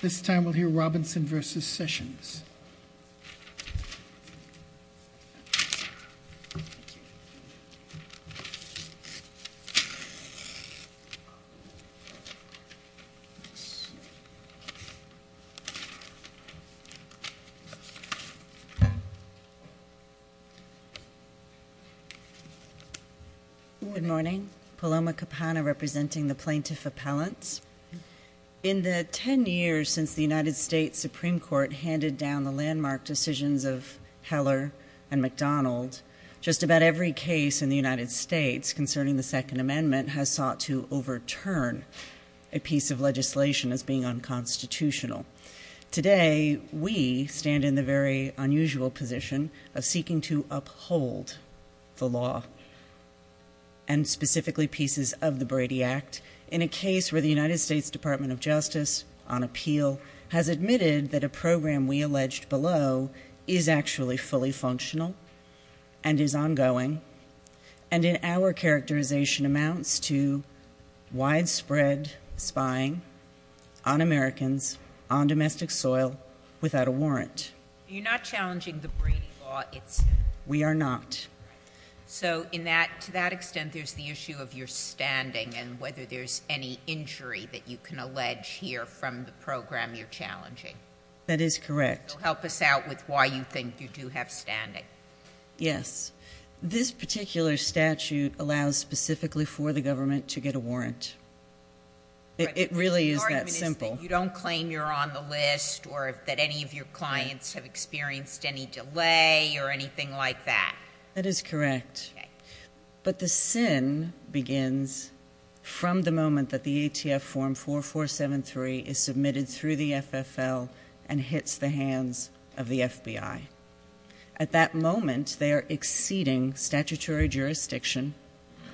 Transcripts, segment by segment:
This time we'll hear Robinson v. Sessions. Good morning. Paloma Capana representing the Plaintiff Appellants. In the ten years since the United States Supreme Court handed down the landmark decisions of Heller and McDonald, just about every case in the United States concerning the Second Amendment has sought to overturn a piece of legislation as being unconstitutional. Today we stand in the very unusual position of seeking to uphold the law, and specifically pieces of the Brady Act, in a case where the United States Department of Justice, on appeal, has admitted that a program we alleged below is actually fully functional and is ongoing, and in our characterization amounts to widespread spying on Americans, on domestic soil, without a warrant. You're not challenging the Brady law itself. We are not. So to that extent, there's the issue of your standing and whether there's any injury that you can allege here from the program you're challenging. That is correct. So help us out with why you think you do have standing. Yes. This particular statute allows specifically for the government to get a warrant. It really is that simple. You don't claim you're on the list or that any of your clients have experienced any delay or anything like that. That is correct. But the sin begins from the moment that the ATF Form 4473 is submitted through the FFL and hits the hands of the FBI. At that moment, they are exceeding statutory jurisdiction,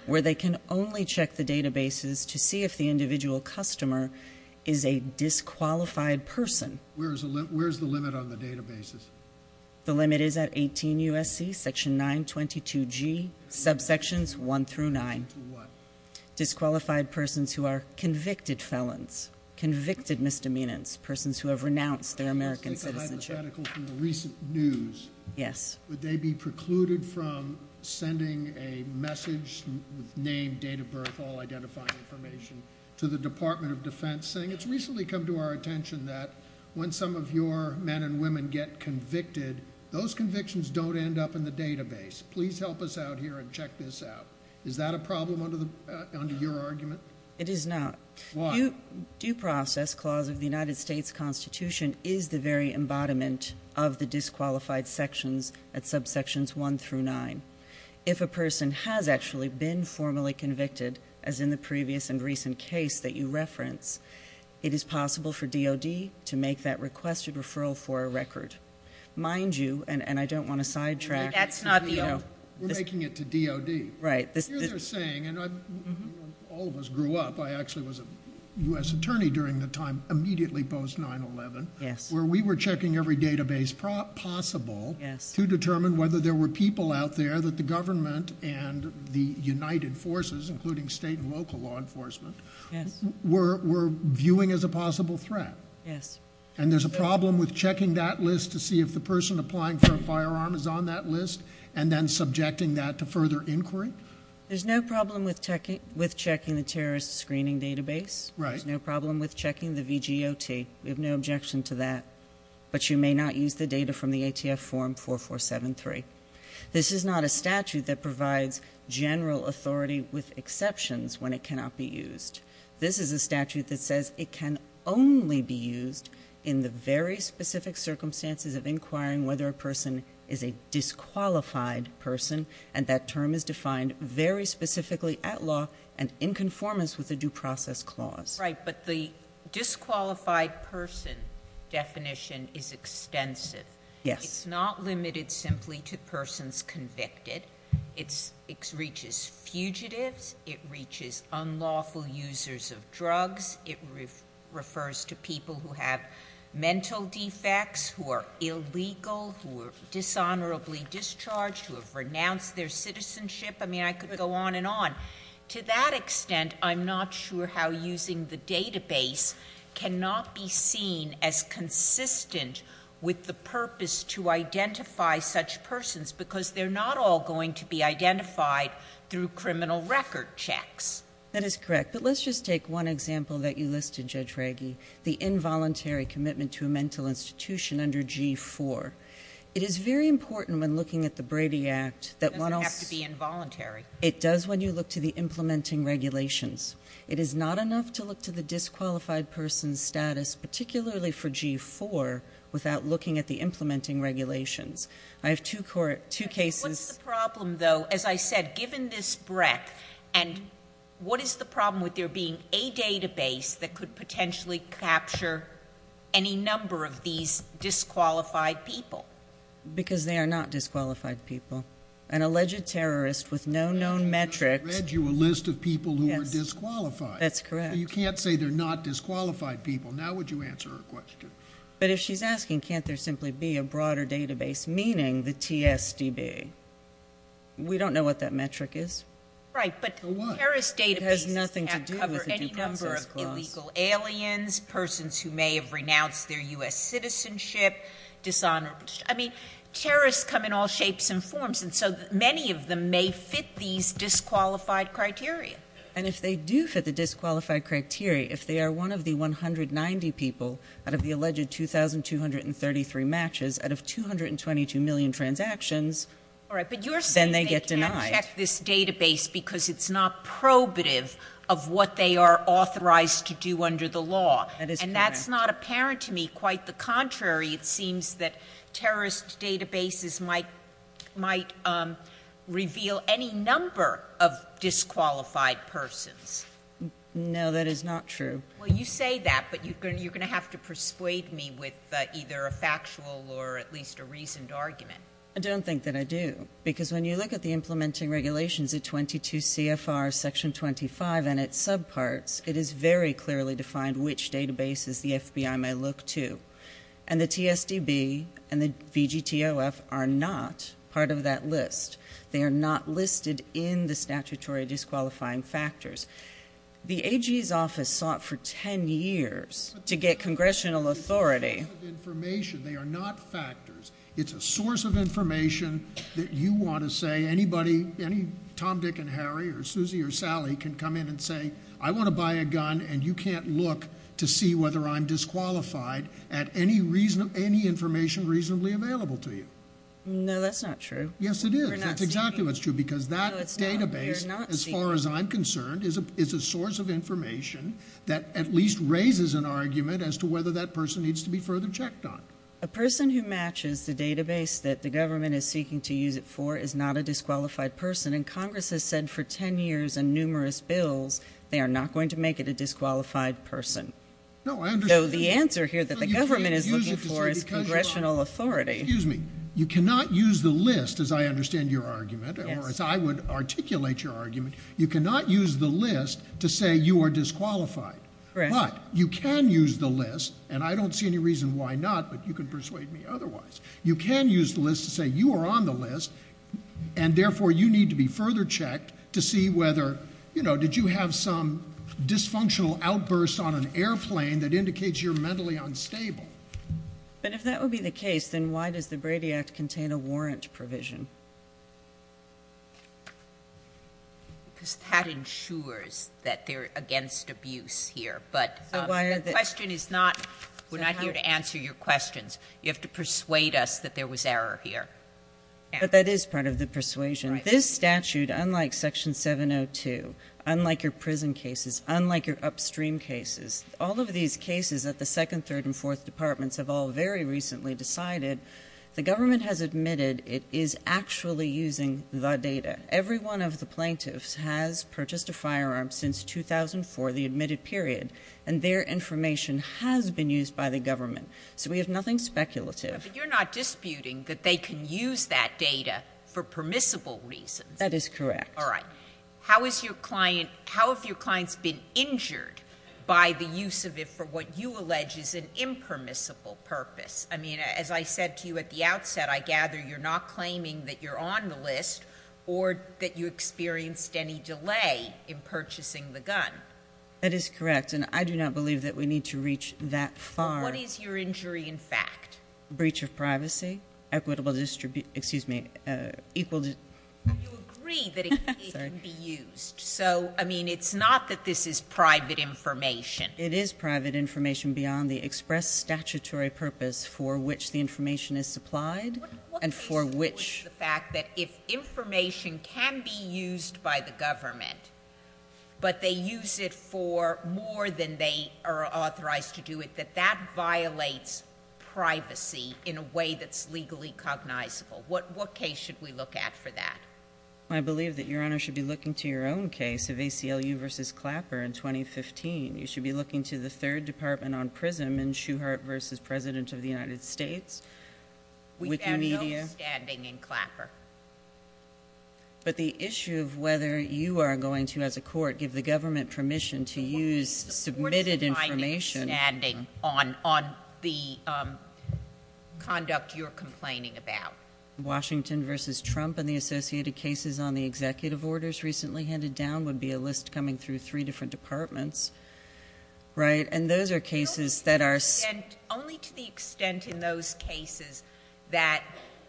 where they can only check the databases to see if the individual customer is a disqualified person. Where is the limit on the databases? The limit is at 18 U.S.C., Section 922G, subsections 1 through 9. Disqualified persons who are convicted felons, convicted misdemeanors, persons who have renounced their American citizenship. Yes. Would they be precluded from sending a message with name, date of birth, all identifying information to the Department of Defense, saying it's recently come to our attention that when some of your men and women get convicted, those convictions don't end up in the database. Please help us out here and check this out. Is that a problem under your argument? It is not. Why? The Due Process Clause of the United States Constitution is the very embodiment of the disqualified sections at subsections 1 through 9. If a person has actually been formally convicted, as in the previous and recent case that you reference, it is possible for DOD to make that requested referral for a record. Mind you, and I don't want to sidetrack. That's not the idea. We're making it to DOD. Right. What you're saying, and all of us grew up, I actually was a U.S. attorney during the time immediately post-9-11, where we were checking every database possible to determine whether there were people out there that the government and the United Forces, including state and local law enforcement, were viewing as a possible threat. Yes. And there's a problem with checking that list to see if the person applying for a firearm is on that list and then subjecting that to further inquiry? There's no problem with checking the terrorist screening database. There's no problem with checking the VGOT. We have no objection to that. But you may not use the data from the ATF Form 4473. This is not a statute that provides general authority with exceptions when it cannot be used. This is a statute that says it can only be used in the very specific circumstances of inquiring whether a person is a disqualified person, and that term is defined very specifically at law and in conformance with the Due Process Clause. Right, but the disqualified person definition is extensive. Yes. It's not limited simply to persons convicted. It reaches fugitives. It reaches unlawful users of drugs. It refers to people who have mental defects, who are illegal, who are dishonorably discharged, who have renounced their citizenship. I mean, I could go on and on. To that extent, I'm not sure how using the database cannot be seen as consistent with the purpose to identify such persons, because they're not all going to be identified through criminal record checks. That is correct. But let's just take one example that you listed, Judge Reagy, the involuntary commitment to a mental institution under G-4. It is very important when looking at the Brady Act that one also— It doesn't have to be involuntary. It does when you look to the implementing regulations. It is not enough to look to the disqualified person's status, particularly for G-4, without looking at the implementing regulations. I have two cases— What's the problem, though? As I said, given this breadth, and what is the problem with there being a database that could potentially capture any number of these disqualified people? Because they are not disqualified people. An alleged terrorist with no known metrics— They're disqualified. That's correct. You can't say they're not disqualified people. Now would you answer her question? But if she's asking can't there simply be a broader database, meaning the TSDB, we don't know what that metric is. Right, but terrorist databases can't cover any number of illegal aliens, persons who may have renounced their U.S. citizenship, dishonorable— I mean, terrorists come in all shapes and forms, and so many of them may fit these disqualified criteria. Right, and if they do fit the disqualified criteria, if they are one of the 190 people out of the alleged 2,233 matches out of 222 million transactions, then they get denied. All right, but you're saying they can't check this database because it's not probative of what they are authorized to do under the law. That is correct. And that's not apparent to me. Quite the contrary, it seems that terrorist databases might reveal any number of disqualified persons. No, that is not true. Well, you say that, but you're going to have to persuade me with either a factual or at least a reasoned argument. I don't think that I do, because when you look at the implementing regulations at 22 CFR Section 25 and its subparts, it is very clearly defined which databases the FBI may look to. And the TSDB and the VGTOF are not part of that list. They are not listed in the statutory disqualifying factors. The AG's office sought for 10 years to get congressional authority. It's a source of information. They are not factors. It's a source of information that you want to say. Anybody, any Tom, Dick, and Harry or Susie or Sally can come in and say, I want to buy a gun, and you can't look to see whether I'm disqualified at any information reasonably available to you. No, that's not true. Yes, it is. That's exactly what's true, because that database, as far as I'm concerned, is a source of information that at least raises an argument as to whether that person needs to be further checked on. A person who matches the database that the government is seeking to use it for is not a disqualified person. And Congress has said for 10 years and numerous bills, they are not going to make it a disqualified person. Though the answer here that the government is looking for is congressional authority. Excuse me. You cannot use the list, as I understand your argument, or as I would articulate your argument, you cannot use the list to say you are disqualified. But you can use the list, and I don't see any reason why not, but you can persuade me otherwise. You can use the list to say you are on the list, and therefore you need to be further checked to see whether, you know, did you have some dysfunctional outburst on an airplane that indicates you're mentally unstable. But if that would be the case, then why does the Brady Act contain a warrant provision? Because that ensures that they're against abuse here. But the question is not we're not here to answer your questions. You have to persuade us that there was error here. But that is part of the persuasion. This statute, unlike Section 702, unlike your prison cases, unlike your upstream cases, all of these cases that the Second, Third, and Fourth Departments have all very recently decided, the government has admitted it is actually using the data. Every one of the plaintiffs has purchased a firearm since 2004, the admitted period, and their information has been used by the government. So we have nothing speculative. But you're not disputing that they can use that data for permissible reasons. That is correct. All right. How have your clients been injured by the use of it for what you allege is an impermissible purpose? I mean, as I said to you at the outset, I gather you're not claiming that you're on the list or that you experienced any delay in purchasing the gun. That is correct, and I do not believe that we need to reach that far. What is your injury in fact? Breach of privacy, equitable distribute, excuse me, equal to. You agree that it can be used. So, I mean, it's not that this is private information. It is private information beyond the express statutory purpose for which the information is supplied and for which. What is the fact that if information can be used by the government, but they use it for more than they are authorized to do it, that that violates privacy in a way that's legally cognizable? What case should we look at for that? I believe that Your Honor should be looking to your own case of ACLU v. Clapper in 2015. You should be looking to the third department on PRISM in Shuhart v. President of the United States, Wikimedia. We have no standing in Clapper. But the issue of whether you are going to, as a court, give the government permission to use submitted information. What is the binding standing on the conduct you're complaining about? Washington v. Trump and the associated cases on the executive orders recently handed down would be a list coming through three different departments, right? And those are cases that are. Only to the extent in those cases that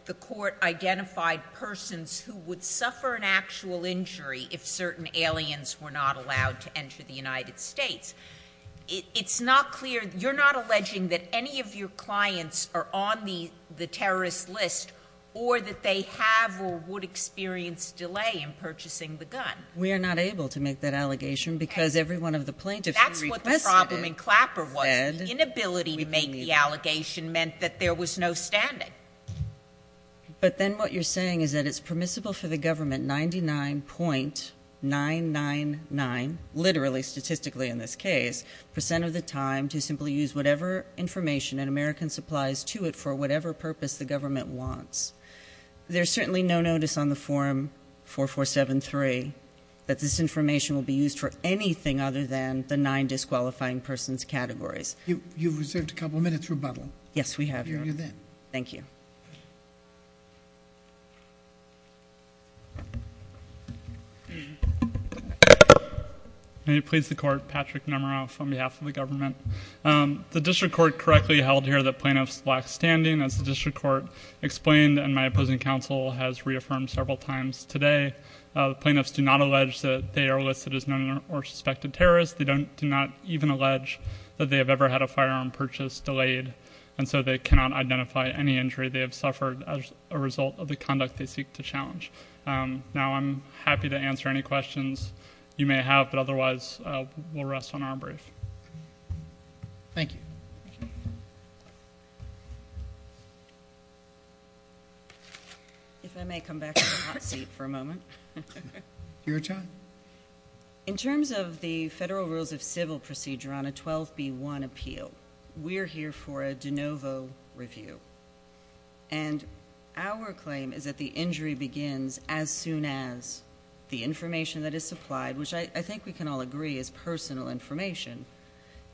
the court identified persons who would suffer an actual injury if certain aliens were not allowed to enter the United States. It's not clear. You're not alleging that any of your clients are on the terrorist list or that they have or would experience delay in purchasing the gun. We are not able to make that allegation because every one of the plaintiffs. That's what the problem in Clapper was. The inability to make the allegation meant that there was no standing. But then what you're saying is that it's permissible for the government 99.999, literally statistically in this case, percent of the time to simply use whatever information and American supplies to it for whatever purpose the government wants. There's certainly no notice on the forum for 473 that this information will be used for anything other than the nine disqualifying persons categories. You've reserved a couple of minutes rebuttal. Yes, we have. Thank you. May it please the court. Patrick number off on behalf of the government. The district court correctly held here that plaintiffs black standing as the district court explained. And my opposing counsel has reaffirmed several times today. Plaintiffs do not allege that they are listed as known or suspected terrorist. They don't do not even allege that they have ever had a firearm purchase delayed. And so they cannot identify any injury. They have suffered as a result of the conduct they seek to challenge. Now I'm happy to answer any questions you may have. But otherwise, we'll rest on our brief. Thank you. If I may come back to the hot seat for a moment. Your turn. In terms of the federal rules of civil procedure on a 12 B one appeal, we're here for a de novo review. And our claim is that the injury begins as soon as the information that is supplied, which I think we can all agree is personal information.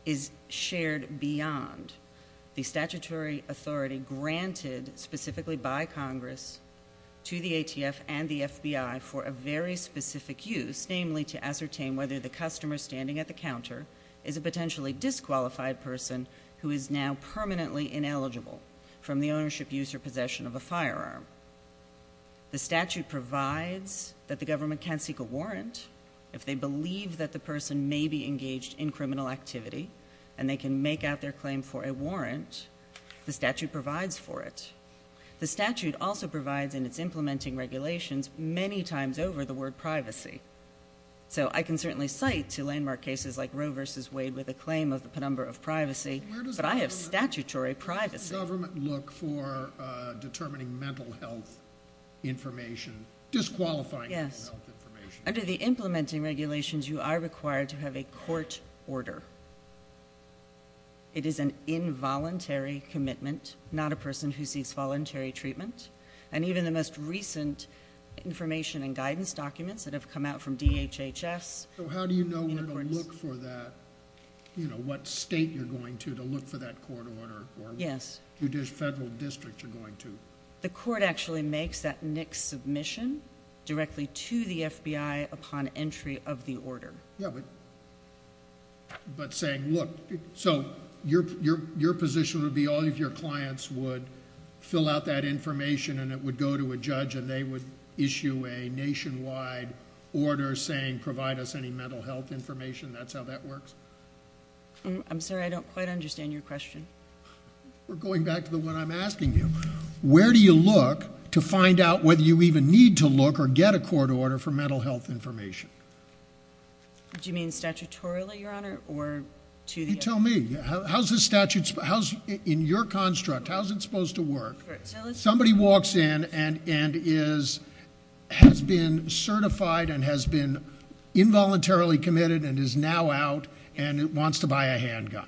Is shared beyond the statutory authority granted specifically by Congress to the A.T.F. and the FBI for a very specific use. Namely to ascertain whether the customer standing at the counter is a potentially disqualified person who is now permanently ineligible from the ownership use or possession of a firearm. The statute provides that the government can seek a warrant. If they believe that the person may be engaged in criminal activity. And they can make out their claim for a warrant. The statute provides for it. The statute also provides in its implementing regulations many times over the word privacy. So I can certainly cite to landmark cases like Roe versus Wade with a claim of the penumbra of privacy. But I have statutory privacy. Does the government look for determining mental health information? Disqualifying mental health information? Under the implementing regulations, you are required to have a court order. It is an involuntary commitment. Not a person who seeks voluntary treatment. And even the most recent information and guidance documents that have come out from DHHS. So how do you know where to look for that? You know, what state you're going to to look for that court order. Yes. Or what federal district you're going to. The court actually makes that NICS submission directly to the FBI upon entry of the order. Yeah. But saying, look, so your position would be all of your clients would fill out that information. And it would go to a judge. And they would issue a nationwide order saying provide us any mental health information. That's how that works? I'm sorry. I don't quite understand your question. We're going back to the one I'm asking you. Where do you look to find out whether you even need to look or get a court order for mental health information? Do you mean statutorily, Your Honor? You tell me. How's this statute, in your construct, how's it supposed to work? Somebody walks in and has been certified and has been involuntarily committed and is now out and wants to buy a handgun.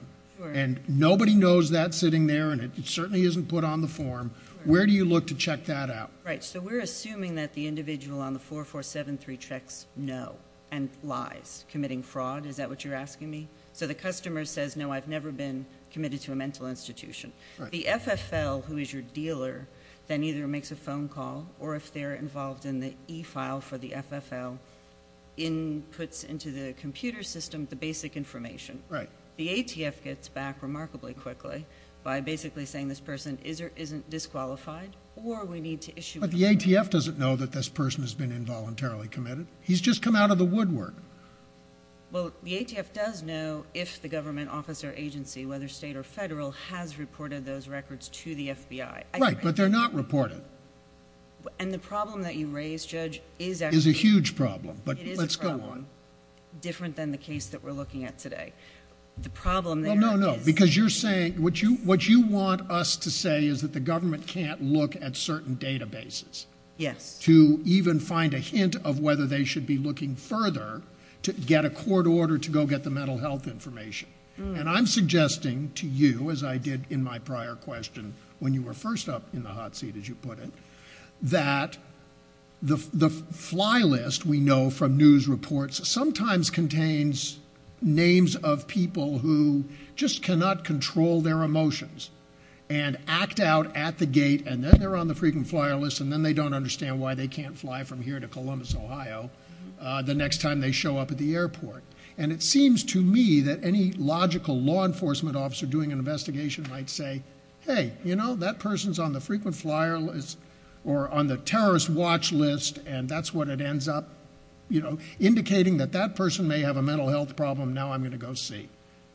And nobody knows that sitting there, and it certainly isn't put on the form. Where do you look to check that out? Right. So we're assuming that the individual on the 4473 checks no and lies, committing fraud. Is that what you're asking me? So the customer says, no, I've never been committed to a mental institution. The FFL, who is your dealer, then either makes a phone call or if they're involved in the e-file for the FFL, inputs into the computer system the basic information. Right. The ATF gets back remarkably quickly by basically saying this person isn't disqualified or we need to issue a complaint. But the ATF doesn't know that this person has been involuntarily committed. He's just come out of the woodwork. Well, the ATF does know if the government office or agency, whether state or federal, has reported those records to the FBI. Right, but they're not reported. And the problem that you raise, Judge, is actually... Is a huge problem, but let's go on. Different than the case that we're looking at today. The problem there is... Well, no, no, because you're saying... What you want us to say is that the government can't look at certain databases... Yes. ...to even find a hint of whether they should be looking further to get a court order to go get the mental health information. And I'm suggesting to you, as I did in my prior question when you were first up in the hot seat, as you put it, that the fly list we know from news reports sometimes contains names of people who just cannot control their emotions and act out at the gate, and then they're on the frequent flyer list, and then they don't understand why they can't fly from here to Columbus, Ohio, the next time they show up at the airport. And it seems to me that any logical law enforcement officer doing an investigation might say, Hey, you know, that person's on the frequent flyer list or on the terrorist watch list, and that's what it ends up indicating that that person may have a mental health problem. Now I'm going to go see.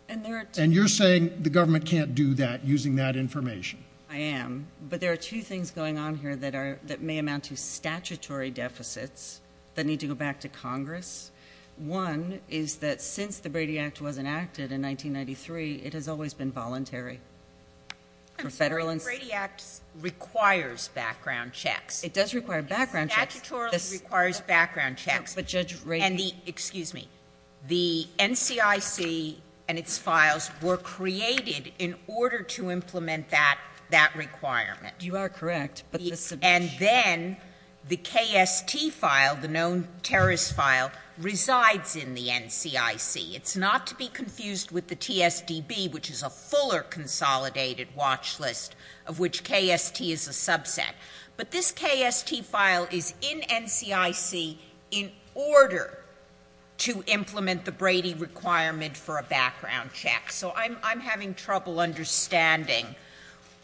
And you're saying the government can't do that using that information. I am, but there are two things going on here that may amount to statutory deficits that need to go back to Congress. One is that since the Brady Act was enacted in 1993, it has always been voluntary. For Federal and State. And the Brady Act requires background checks. It does require background checks. It statutorily requires background checks. No, but Judge Rady. And the — excuse me. The NCIC and its files were created in order to implement that requirement. You are correct. And then the KST file, the known terrorist file, resides in the NCIC. It's not to be confused with the TSDB, which is a fuller consolidated watch list of which KST is a subset. But this KST file is in NCIC in order to implement the Brady requirement for a background check. So I'm having trouble understanding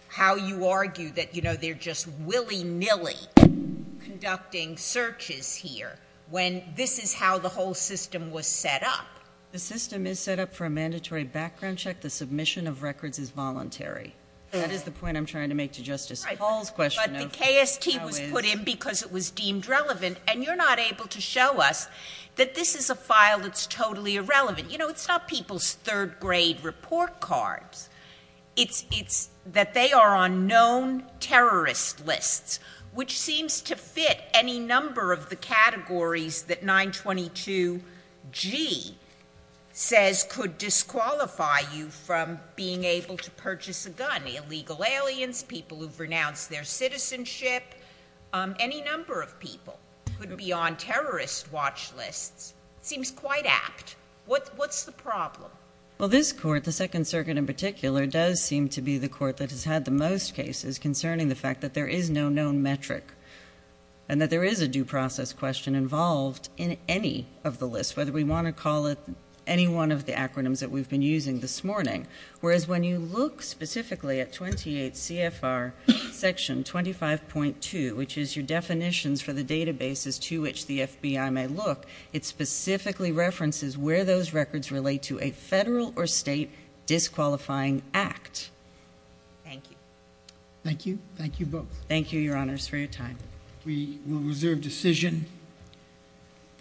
how you argue that, you know, they're just willy-nilly conducting searches here when this is how the whole system was set up. The system is set up for a mandatory background check. The submission of records is voluntary. That is the point I'm trying to make to Justice Paul's question of how is — But the KST was put in because it was deemed relevant. And you're not able to show us that this is a file that's totally irrelevant. You know, it's not people's third-grade report cards. It's that they are on known terrorist lists, which seems to fit any number of the categories that 922G says could disqualify you from being able to purchase a gun. Illegal aliens, people who've renounced their citizenship, any number of people could be on terrorist watch lists. It seems quite apt. What's the problem? Well, this court, the Second Circuit in particular, does seem to be the court that has had the most cases concerning the fact that there is no known metric and that there is a due process question involved in any of the lists, whether we want to call it any one of the acronyms that we've been using this morning. Whereas when you look specifically at 28 CFR Section 25.2, which is your definitions for the databases to which the FBI may look, it specifically references where those records relate to a federal or state disqualifying act. Thank you. Thank you. Thank you both. Thank you, Your Honors, for your time. We will reserve decision.